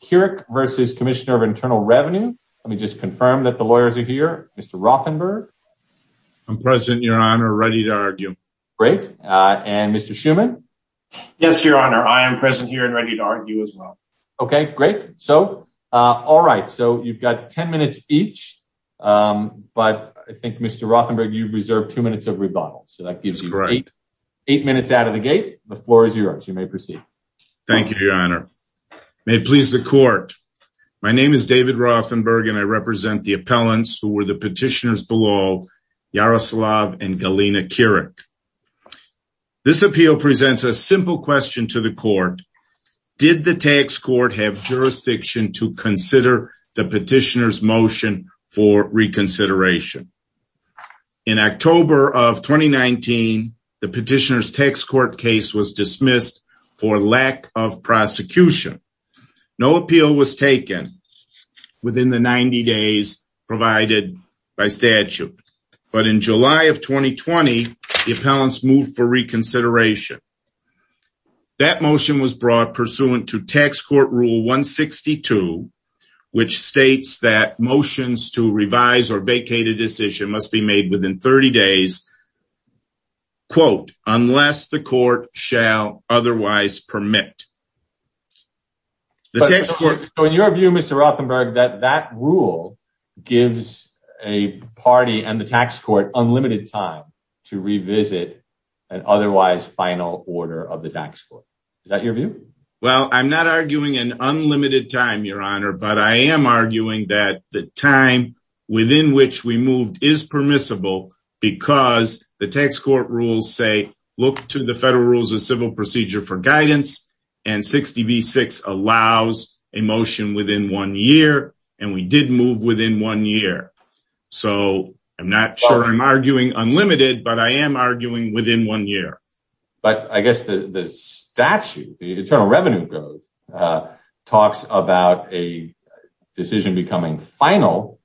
Kirik v. Commissioner of Internal Revenue They please the court. My name is David Rothenberg and I represent the appellants who were the petitioners below, Yaroslav and Galina Kirik. This appeal presents a simple question to the court. Did the tax court have jurisdiction to consider the petitioner's motion for reconsideration? In October of 2019, the petitioner's tax court case was dismissed for lack of prosecution. No appeal was taken within the 90 days provided by statute. But in July of 2020, the appellants moved for reconsideration. That motion was brought pursuant to Tax Court Rule 162, which must be made within 30 days, unless the court shall otherwise permit. So in your view, Mr. Rothenberg, that that rule gives a party and the tax court unlimited time to revisit an otherwise final order of the tax court. Is that your view? Well, I'm not arguing an unlimited time, Your Honor, but I am arguing that the time within which we moved is permissible because the tax court rules say, look to the federal rules of civil procedure for guidance. And 60 v. 6 allows a motion within one year. And we did move within one year. So I'm not sure I'm arguing unlimited, but I am arguing within one year. But I guess the statute, the Internal Revenue Code, talks about a decision becoming final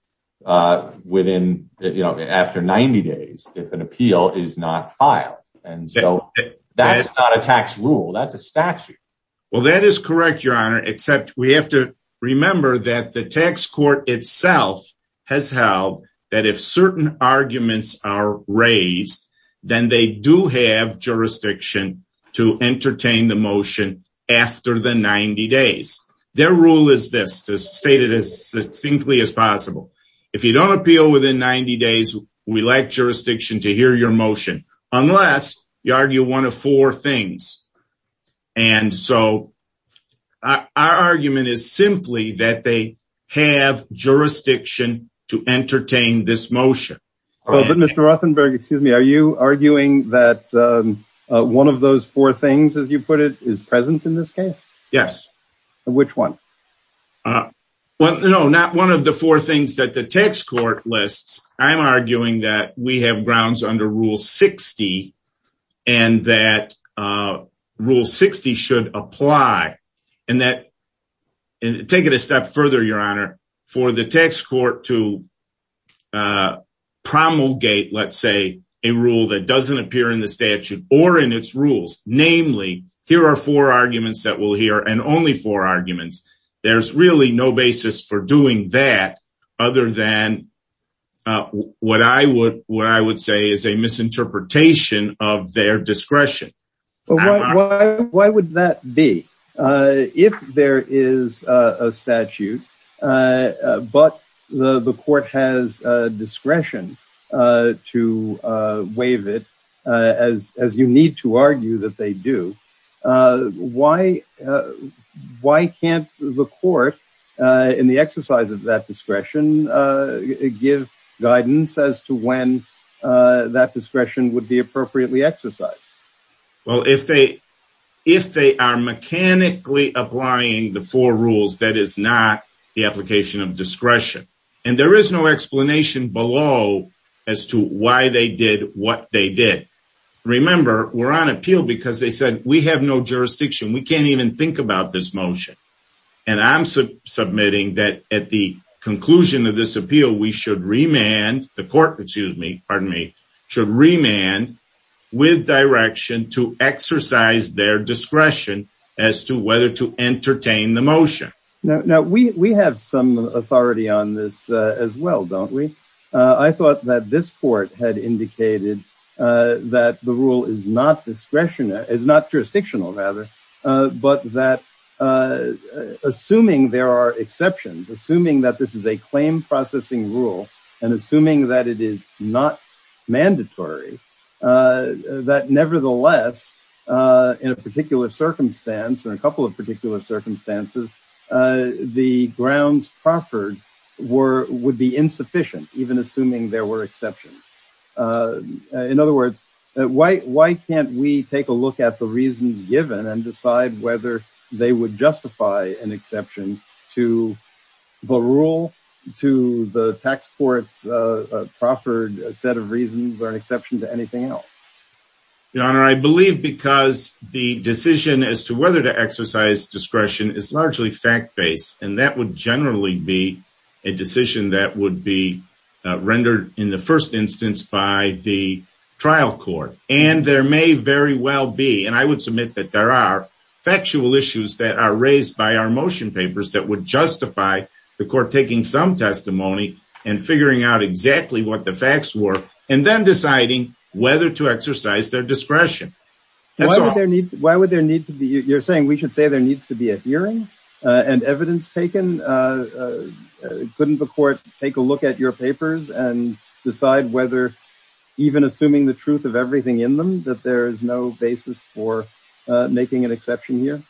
within, you know, after 90 days if an appeal is not filed. And so that is not a tax rule. That's a statute. Well, that is correct, Your Honor, except we have to remember that the tax court itself has held that if certain arguments are raised, then they do have jurisdiction to entertain the motion after the 90 days. Their rule is this, to state it as succinctly as possible. If you don't appeal within 90 days, we lack jurisdiction to hear your motion, unless you simply that they have jurisdiction to entertain this motion. But Mr. Rothenberg, excuse me, are you arguing that one of those four things, as you put it, is present in this case? Yes. Which one? Well, no, not one of the four things that the tax court lists. I'm arguing that we have taken it a step further, Your Honor, for the tax court to promulgate, let's say, a rule that doesn't appear in the statute or in its rules. Namely, here are four arguments that we'll hear and only four arguments. There's really no basis for doing that other than what I would say is a misinterpretation of their discretion. Well, why would that be? If there is a statute, but the court has discretion to waive it, as you need to argue that they do, why can't the court, in the exercise of that discretion, give guidance as to when that discretion would be appropriately exercised? Well, if they are mechanically applying the four rules, that is not the application of discretion. And there is no explanation below as to why they did what they did. Remember, we're on appeal because they said, we have no jurisdiction. We can't even think about this motion. And I'm submitting that at the conclusion of this appeal, we should remand with direction to exercise their discretion as to whether to entertain the motion. Now, we have some authority on this as well, don't we? I thought that this court had indicated that the rule is not jurisdictional, but that assuming there are exceptions, assuming that this is a claim processing rule, and assuming that it is not mandatory, that nevertheless, in a particular circumstance, or a couple of particular circumstances, the grounds proffered would be insufficient, even assuming there were exceptions. In other words, why can't we take a look at the reasons given and decide whether they would justify an exception to the rule, to the tax court's proffered set of reasons, or an exception to anything else? Your Honor, I believe because the decision as to whether to exercise discretion is largely fact-based, and that would generally be a decision that would be rendered in the first instance by the trial court. And there may very well be, and I would submit that there are, factual issues that are raised by our motion papers that would justify the court taking some testimony and figuring out exactly what the facts were, and then deciding whether to exercise their discretion. Why would there need to be, you're saying we should say there needs to be a hearing and evidence taken? Couldn't the court take a look at your papers and decide whether, even assuming the truth of everything in them, that there is no basis for making an exception here?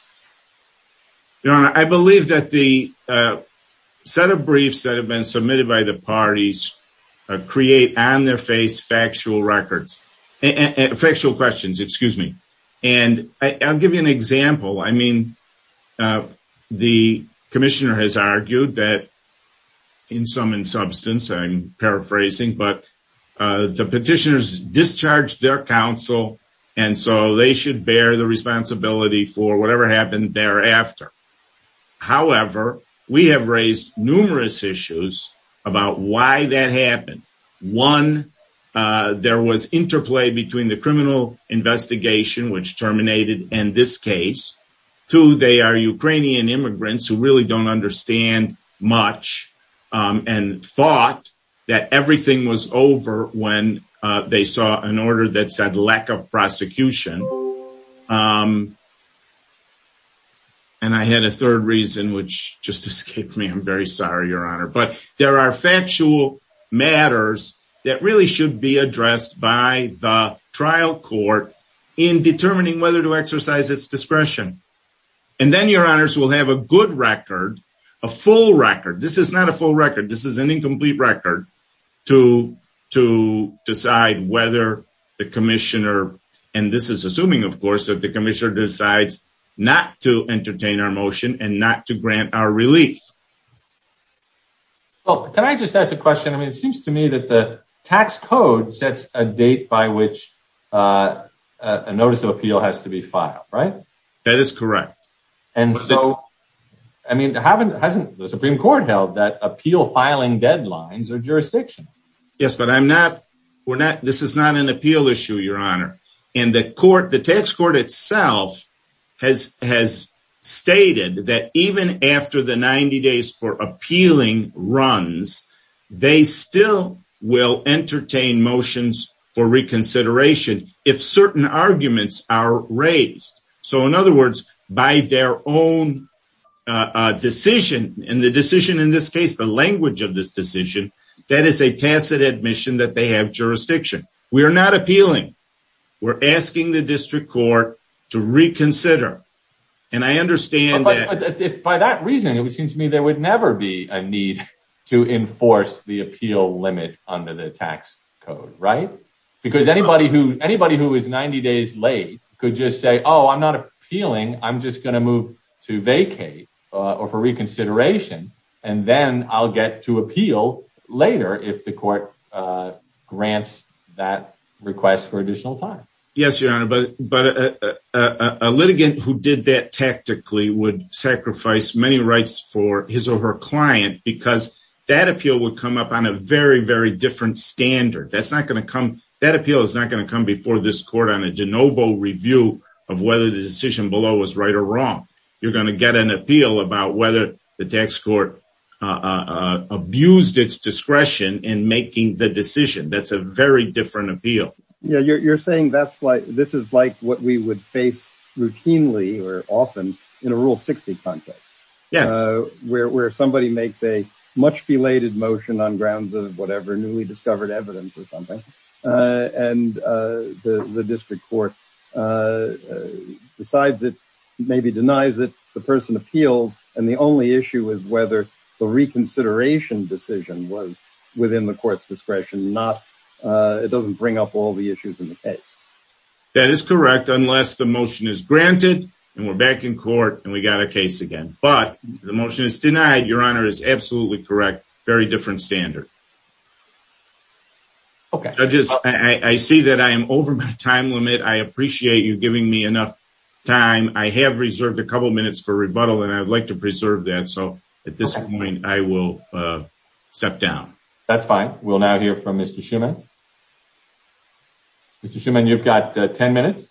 Your Honor, I believe that the set of briefs that have been submitted by the parties create on their face factual records, factual questions, excuse me. And I'll give you an example. I mean, the commissioner has argued that, in sum and substance, I'm paraphrasing, but the petitioners discharged their counsel, and so they should bear the responsibility for whatever happened thereafter. However, we have raised numerous issues about why that happened. One, there was interplay between the criminal investigation, which terminated in this case, two, they are Ukrainian immigrants who really don't understand much and thought that everything was over when they saw an order that said lack of prosecution. And I had a third reason, which just escaped me. I'm very sorry, Your Honor. But there are factual matters that really should be addressed by the trial court in determining whether to exercise its discretion. And then, Your Honors, we'll have a good record, a full record. This is not a full record. This is an incomplete record to decide whether the commissioner, and this is assuming, of course, that the commissioner decides not to entertain our motion and not to grant our relief. Well, can I just ask a question? I mean, it seems to me that the tax code sets a date by which a notice of appeal has to be filed, right? That is correct. And so, I mean, hasn't the Supreme Court held that appeal filing deadlines are jurisdictional? Yes, but I'm not, we're not, this is not an appeal issue, Your Honor. And the court, the tax court itself has stated that even after the 90 days for appealing runs, they still will entertain motions for reconsideration if certain arguments are raised. So, in other words, by their own decision, and the decision in this case, the language of this decision, that is a tacit admission that they have jurisdiction. We are not appealing. We're asking the district court to reconsider. And I understand that. By that reasoning, it seems to me there would never be a need to enforce the appeal limit under the tax code, right? Because anybody who is 90 days late could just say, oh, I'm not appealing. I'm just going to move to vacate or for reconsideration. And then I'll get to appeal later if the court grants that request for additional time. Yes, Your Honor. But a litigant who did that tactically would sacrifice many rights for his or her client because that appeal would come up on a very, very different standard. That's not going to come, that appeal was right or wrong. You're going to get an appeal about whether the tax court abused its discretion in making the decision. That's a very different appeal. Yeah, you're saying this is like what we would face routinely or often in a rule 60 context. Yes. Where somebody makes a much belated motion on grounds of whatever newly discovered evidence or something. And the district court decides it, maybe denies it, the person appeals, and the only issue is whether the reconsideration decision was within the court's discretion. It doesn't bring up all the issues in the case. That is correct, unless the motion is granted and we're back in court and we got a case again. But the motion is denied, Your Honor, is absolutely correct. Very different standard. Okay. Judges, I see that I am over my time limit. I appreciate you giving me enough time. I have reserved a couple minutes for rebuttal and I'd like to preserve that. So at this point, I will step down. That's fine. We'll now hear from Mr. Schuman. Mr. Schuman, you've got 10 minutes.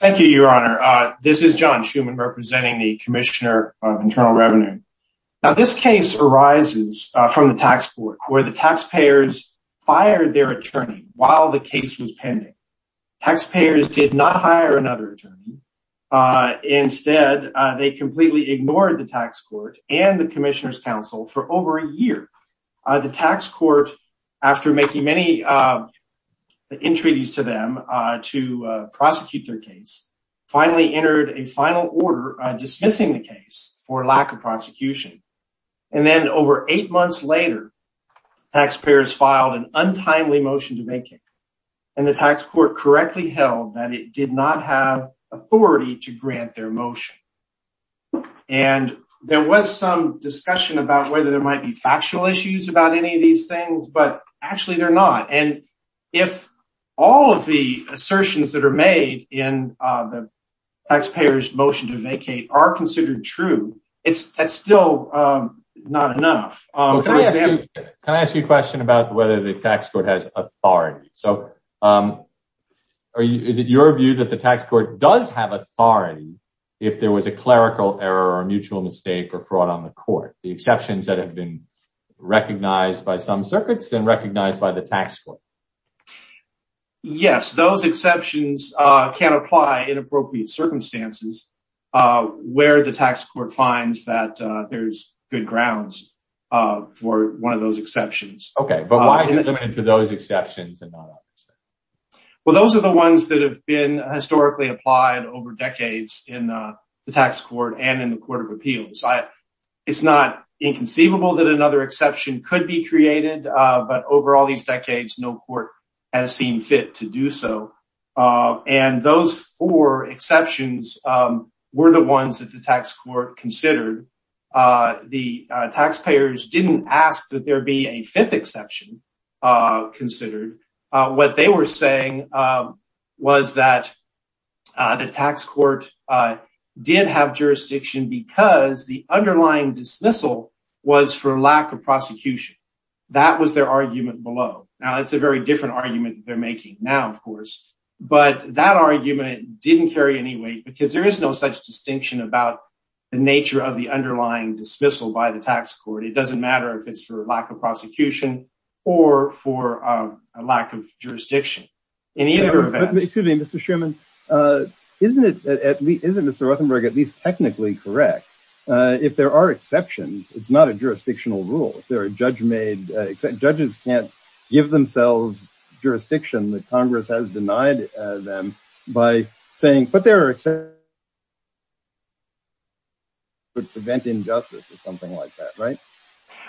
Thank you, Your Honor. This is John Schuman representing the Commissioner of Internal Revenue. Now, this case arises from the tax court where the taxpayers fired their attorney while the case was pending. Taxpayers did not hire another attorney. Instead, they completely ignored the tax court and the Commissioner's counsel for over a year. The tax court, after making many entreaties to them to prosecute their case, finally entered a final order dismissing the case for lack of prosecution. And then over eight months later, taxpayers filed an untimely motion to make it and the tax court correctly held that it did not have authority to grant their motion. And there was some discussion about whether there might be factual issues about any of these things, but actually they're not. And if all of the assertions that are made in the taxpayer's motion to vacate are considered true, it's still not enough. Can I ask you a question about whether the tax court has authority? So is it your view that the tax court does have authority if there was a clerical error or mutual mistake or fraud on the court? The exceptions that have been recognized by some of the tax courts. Yes, those exceptions can apply in appropriate circumstances where the tax court finds that there's good grounds for one of those exceptions. Okay, but why is it limited to those exceptions? Well, those are the ones that have been historically applied over decades in the tax court and in the Court of Appeals. It's not inconceivable that another exception could be created, but over all these decades, no court has seen fit to do so. And those four exceptions were the ones that the tax court considered. The taxpayers didn't ask that there be a fifth exception considered. What they were saying was that the tax court did have jurisdiction because the underlying dismissal was for lack of prosecution. That was their argument below. Now, it's a very different argument they're making now, of course, but that argument didn't carry any weight because there is no such distinction about the nature of the underlying dismissal by the tax court. It doesn't matter if it's for lack prosecution or for a lack of jurisdiction in either event. Excuse me, Mr. Sherman, isn't it at least, isn't Mr. Rothenberg at least technically correct? If there are exceptions, it's not a jurisdictional rule. If there are judge-made, judges can't give themselves jurisdiction that Congress has denied them by saying, but there are exceptions that could prevent injustice or something like that, right?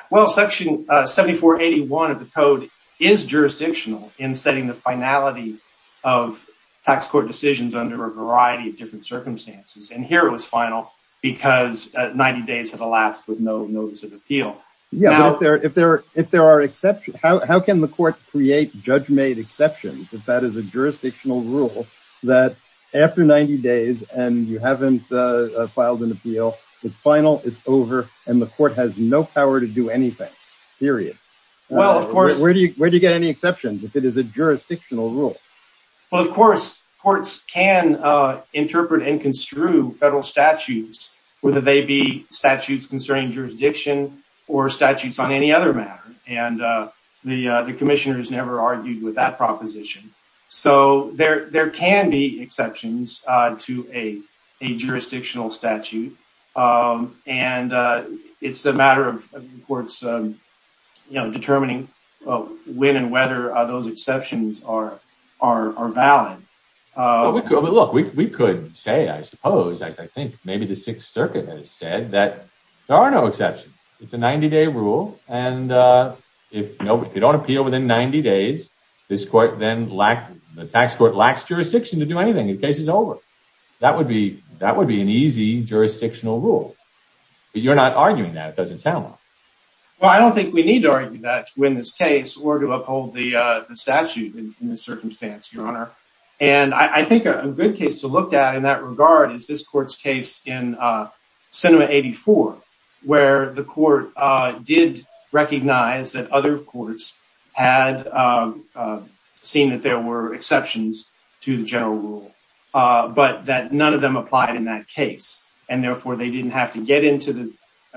Well, section 7481 of the code is jurisdictional in setting the finality of tax court decisions under a variety of different circumstances. And here it was final because 90 days have elapsed with no notice of appeal. Yeah, but if there are exceptions, how can the court create judge-made exceptions if that is a jurisdictional rule that after 90 days and you haven't filed an appeal, it's final, it's over, and the court has no power to do anything, period? Where do you get any exceptions if it is a jurisdictional rule? Well, of course, courts can interpret and construe federal statutes, whether they be statutes concerning jurisdiction or statutes on any other matter, and the commissioner has never argued with that proposition. So there can be exceptions to a jurisdictional statute, and it's a matter of the courts determining when and whether those exceptions are valid. But look, we could say, I suppose, as I think maybe the Sixth Circuit has said, that there are no exceptions. It's a 90-day rule, and if you don't appeal within 90 days, the tax court lacks jurisdiction to do anything. The case is over. That would be an easy jurisdictional rule. But you're not arguing that. It doesn't sound like it. Well, I don't think we need to argue that to win this case or to uphold the statute in this circumstance, Your Honor. And I think a good case to look at in that regard is this court's case in Senate 84, where the court did recognize that other courts had seen that there were exceptions to the general rule, but that none of them applied in that case, and therefore they didn't have to get into the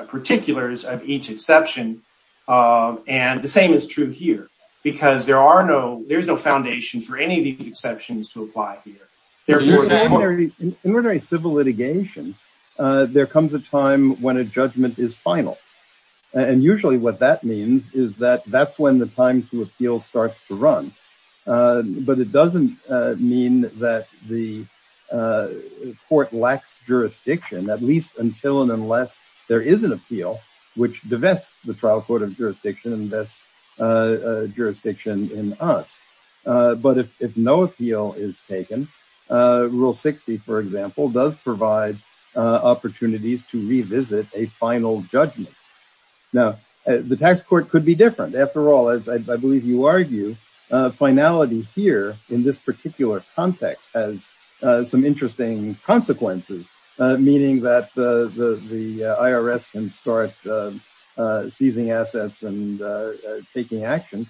particulars of each exception. And the same is true here, because there's no foundation for any of these exceptions to apply here. In ordinary civil litigation, there comes a time when a judgment is final, and usually what that means is that that's when the time to appeal starts to run. But it doesn't mean that the court lacks jurisdiction, at least until and unless there is an appeal which divests the trial court of jurisdiction and invests in us. But if no appeal is taken, Rule 60, for example, does provide opportunities to revisit a final judgment. Now, the tax court could be different. After all, as I believe you argue, finality here in this particular context has some interesting consequences, meaning that the IRS can start seizing assets and taking action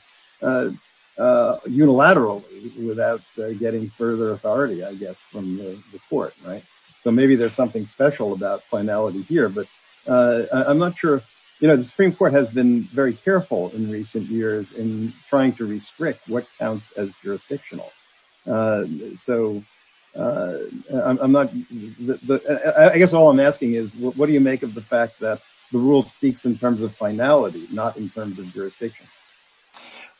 unilaterally without getting further authority, I guess, from the court, right? So maybe there's something special about finality here, but I'm not sure. You know, the Supreme Court has been very careful in recent years in what you make of the fact that the rule speaks in terms of finality, not in terms of jurisdiction.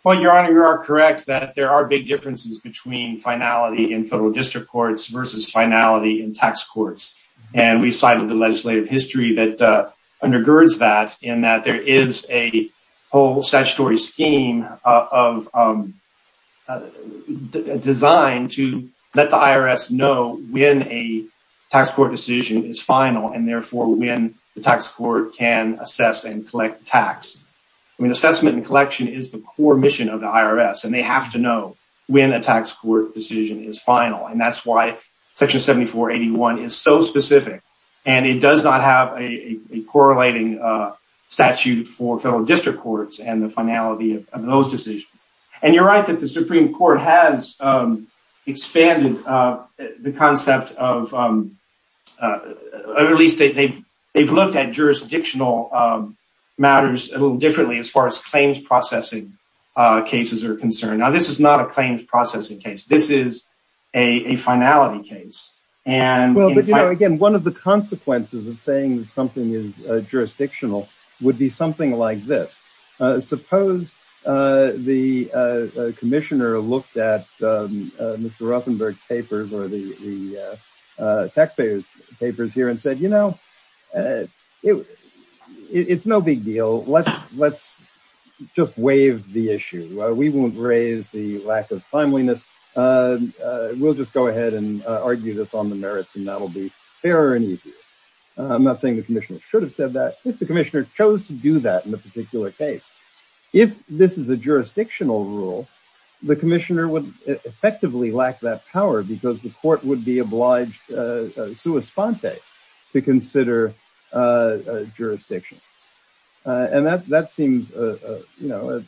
Well, Your Honor, you are correct that there are big differences between finality in federal district courts versus finality in tax courts. And we cited the legislative history that undergirds that, in that there is a whole statutory scheme designed to let the IRS know when a tax court decision is final and therefore when the tax court can assess and collect tax. I mean, assessment and collection is the core mission of the IRS, and they have to know when a tax court decision is final. And that's why Section 7481 is so specific, and it does not have a correlating statute for federal district courts and the finality of those decisions. And you're right that the Supreme Court has expanded the concept of, or at least they've looked at jurisdictional matters a little differently as far as claims processing cases are concerned. Now, this is not a claims processing case. This is a finality case. Well, but you know, again, one of the consequences of saying something is jurisdictional would be something like this. Suppose the commissioner looked at Mr. Ruffenberg's papers or the taxpayers' papers here and said, you know, it's no big deal. Let's just waive the issue. We won't raise the lack of timeliness. We'll just go ahead and argue this on the merits, and that'll be fairer and easier. I'm not saying the commissioner should have said that. If the chose to do that in a particular case, if this is a jurisdictional rule, the commissioner would effectively lack that power because the court would be obliged sui sponte to consider jurisdiction. And that seems, you know,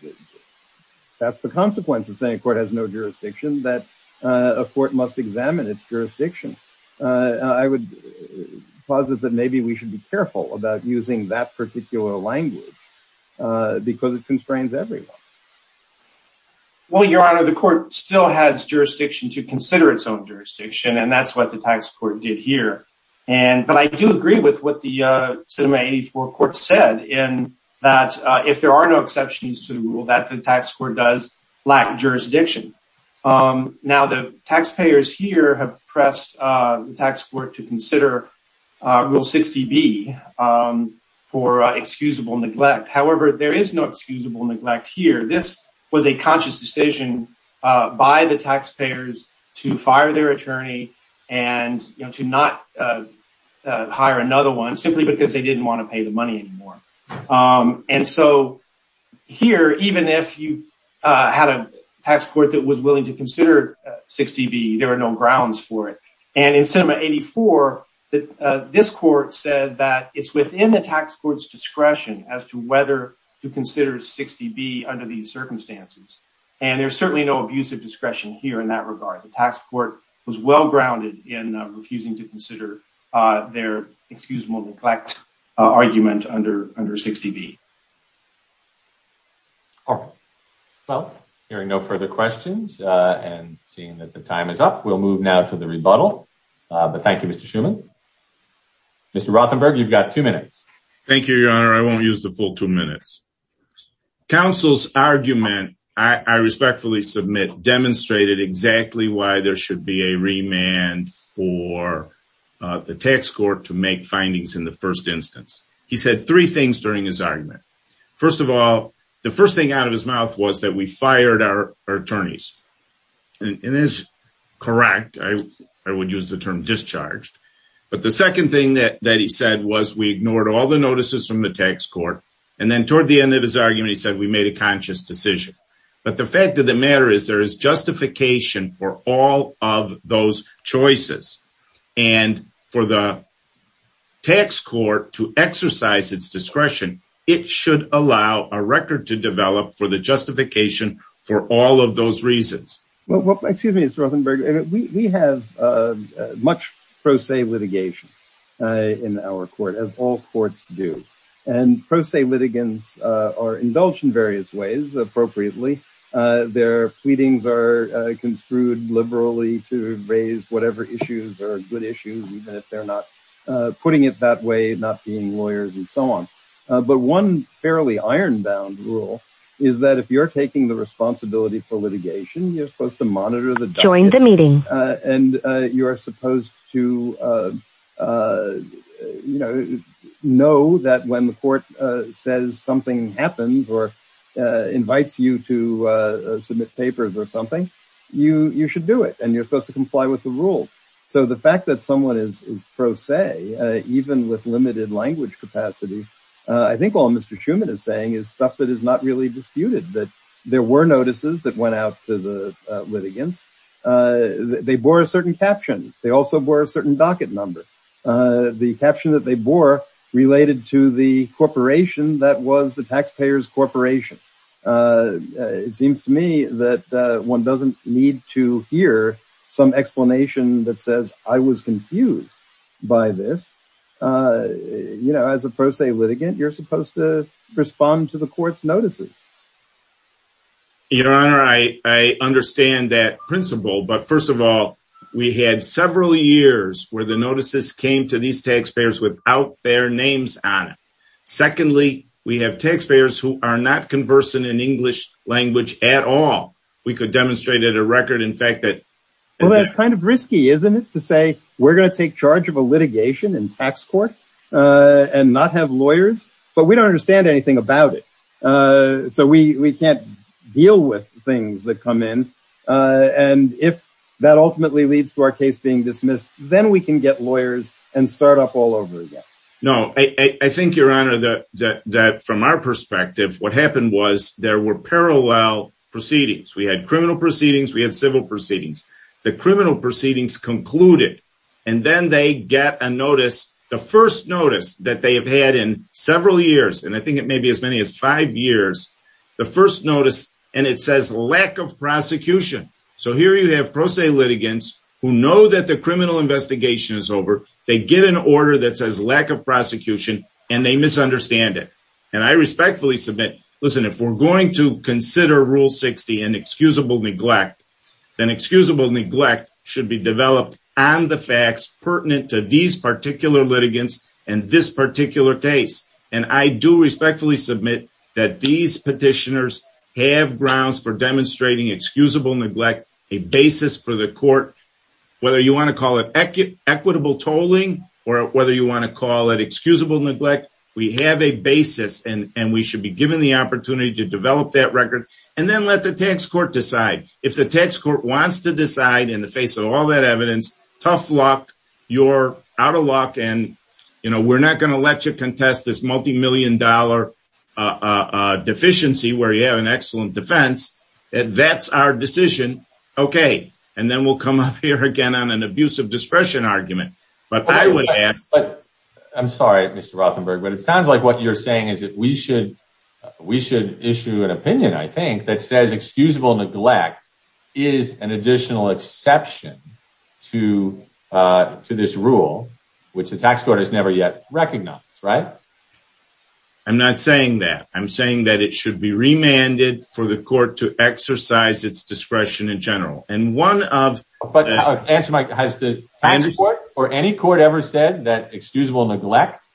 that's the consequence of saying a court has no jurisdiction, that a court must examine its jurisdiction. I would posit that maybe we should be careful about using that particular language because it constrains everyone. Well, your honor, the court still has jurisdiction to consider its own jurisdiction, and that's what the tax court did here. But I do agree with what the Sinema 84 court said in that if there are no exceptions to the rule, that the tax court does lack jurisdiction. Now, the taxpayers here have tax court to consider rule 60B for excusable neglect. However, there is no excusable neglect here. This was a conscious decision by the taxpayers to fire their attorney and to not hire another one simply because they didn't want to pay the money anymore. And so here, even if you had a tax court that was willing to consider 60B, there are no grounds for it. And in Sinema 84, this court said that it's within the tax court's discretion as to whether to consider 60B under these circumstances. And there's certainly no abuse of discretion here in that regard. The tax court was well grounded in refusing to consider their excusable neglect argument under 60B. All right. Well, hearing no further questions and seeing that the time is up, we'll move now to the rebuttal. But thank you, Mr. Shuman. Mr. Rothenberg, you've got two minutes. Thank you, your honor. I won't use the full two minutes. Council's argument, I respectfully submit, demonstrated exactly why there should be a remand for the tax court to make findings in the first instance. He said three things during his argument. First of all, the first thing out of his mouth was that we fired our attorneys. And that's correct. I would use the term discharged. But the second thing that he said was we ignored all the notices from the tax court. And then toward the end of his argument, he said we made a conscious decision. But the fact of the to exercise its discretion, it should allow a record to develop for the justification for all of those reasons. Well, excuse me, Mr. Rothenberg. We have much pro se litigation in our court, as all courts do. And pro se litigants are indulged in various ways appropriately. Their pleadings are construed liberally to raise whatever issues are good issues, even if they're putting it that way, not being lawyers and so on. But one fairly iron bound rule is that if you're taking the responsibility for litigation, you're supposed to monitor the join the meeting. And you're supposed to know that when the court says something happens or invites you to submit papers or something, you should do it and you're supposed to comply with the rule. So the fact that someone is pro se, even with limited language capacity, I think all Mr. Schuman is saying is stuff that is not really disputed, that there were notices that went out to the litigants. They bore a certain caption. They also bore a certain docket number. The caption that they bore related to the corporation that was the taxpayers corporation. It seems to me that one doesn't need to hear some explanation that says I was confused by this. You know, as a pro se litigant, you're supposed to respond to the court's notices. Your Honor, I understand that principle. But first of all, we had several years where the notices came to these taxpayers without their names on it. Secondly, we have taxpayers who are not conversant in English language at all. We could demonstrate at a record, in fact, that that's kind of risky, isn't it, to say we're going to take charge of a litigation in tax court and not have lawyers. But we don't understand anything about it. So we can't deal with things that come in. And if that ultimately leads to our case being dismissed, then we can get lawyers and start up all over again. No, I think, Your Honor, that from our perspective, what happened was there were parallel proceedings. We had criminal proceedings. We had civil proceedings. The criminal proceedings concluded. And then they get a notice, the first notice that they have had in several years. And I think it may be as many as five years, the first notice. And it says lack of prosecution. So here you have pro se litigants who know that the criminal investigation is over. They get an order that says lack of prosecution, and they misunderstand it. And I respectfully submit, listen, if we're going to consider Rule 60 and excusable neglect, then excusable neglect should be developed on the facts pertinent to these particular litigants and this particular case. And I do respectfully submit that these petitioners have grounds for equitable tolling or whether you want to call it excusable neglect. We have a basis and we should be given the opportunity to develop that record and then let the tax court decide. If the tax court wants to decide in the face of all that evidence, tough luck, you're out of luck. And we're not going to let you contest this multimillion dollar deficiency where you have an excellent defense. That's our decision. Okay. And then we'll come up here again on an abuse of discretion argument. I'm sorry, Mr. Rothenberg, but it sounds like what you're saying is that we should issue an opinion, I think, that says excusable neglect is an additional exception to this rule, which the tax court has never yet recognized, right? I'm not saying that. I'm saying that it should be remanded for the court to exercise its discretion in general. And one of... Answer my question. Has the tax court or any court ever said that excusable neglect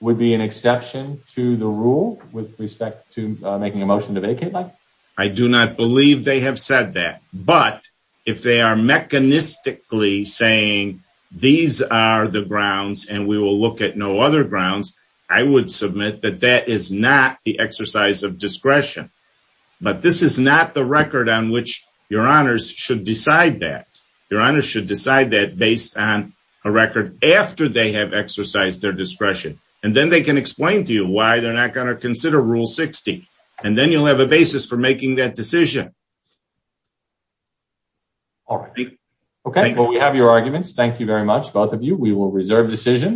would be an exception to the rule with respect to making a motion to vacate, Mike? I do not believe they have said that. But if they are mechanistically saying these are the grounds and we will look at no other grounds, I would submit that that is not the exercise of discretion. But this is not the record on which your honors should decide that. Your honors should decide that based on a record after they have exercised their discretion. And then they can explain to you why they're not going to consider Rule 60. And then you'll have a basis for making that decision. All right. Okay. Well, we have your arguments. Thank you very much, both of you. We will reserve decision.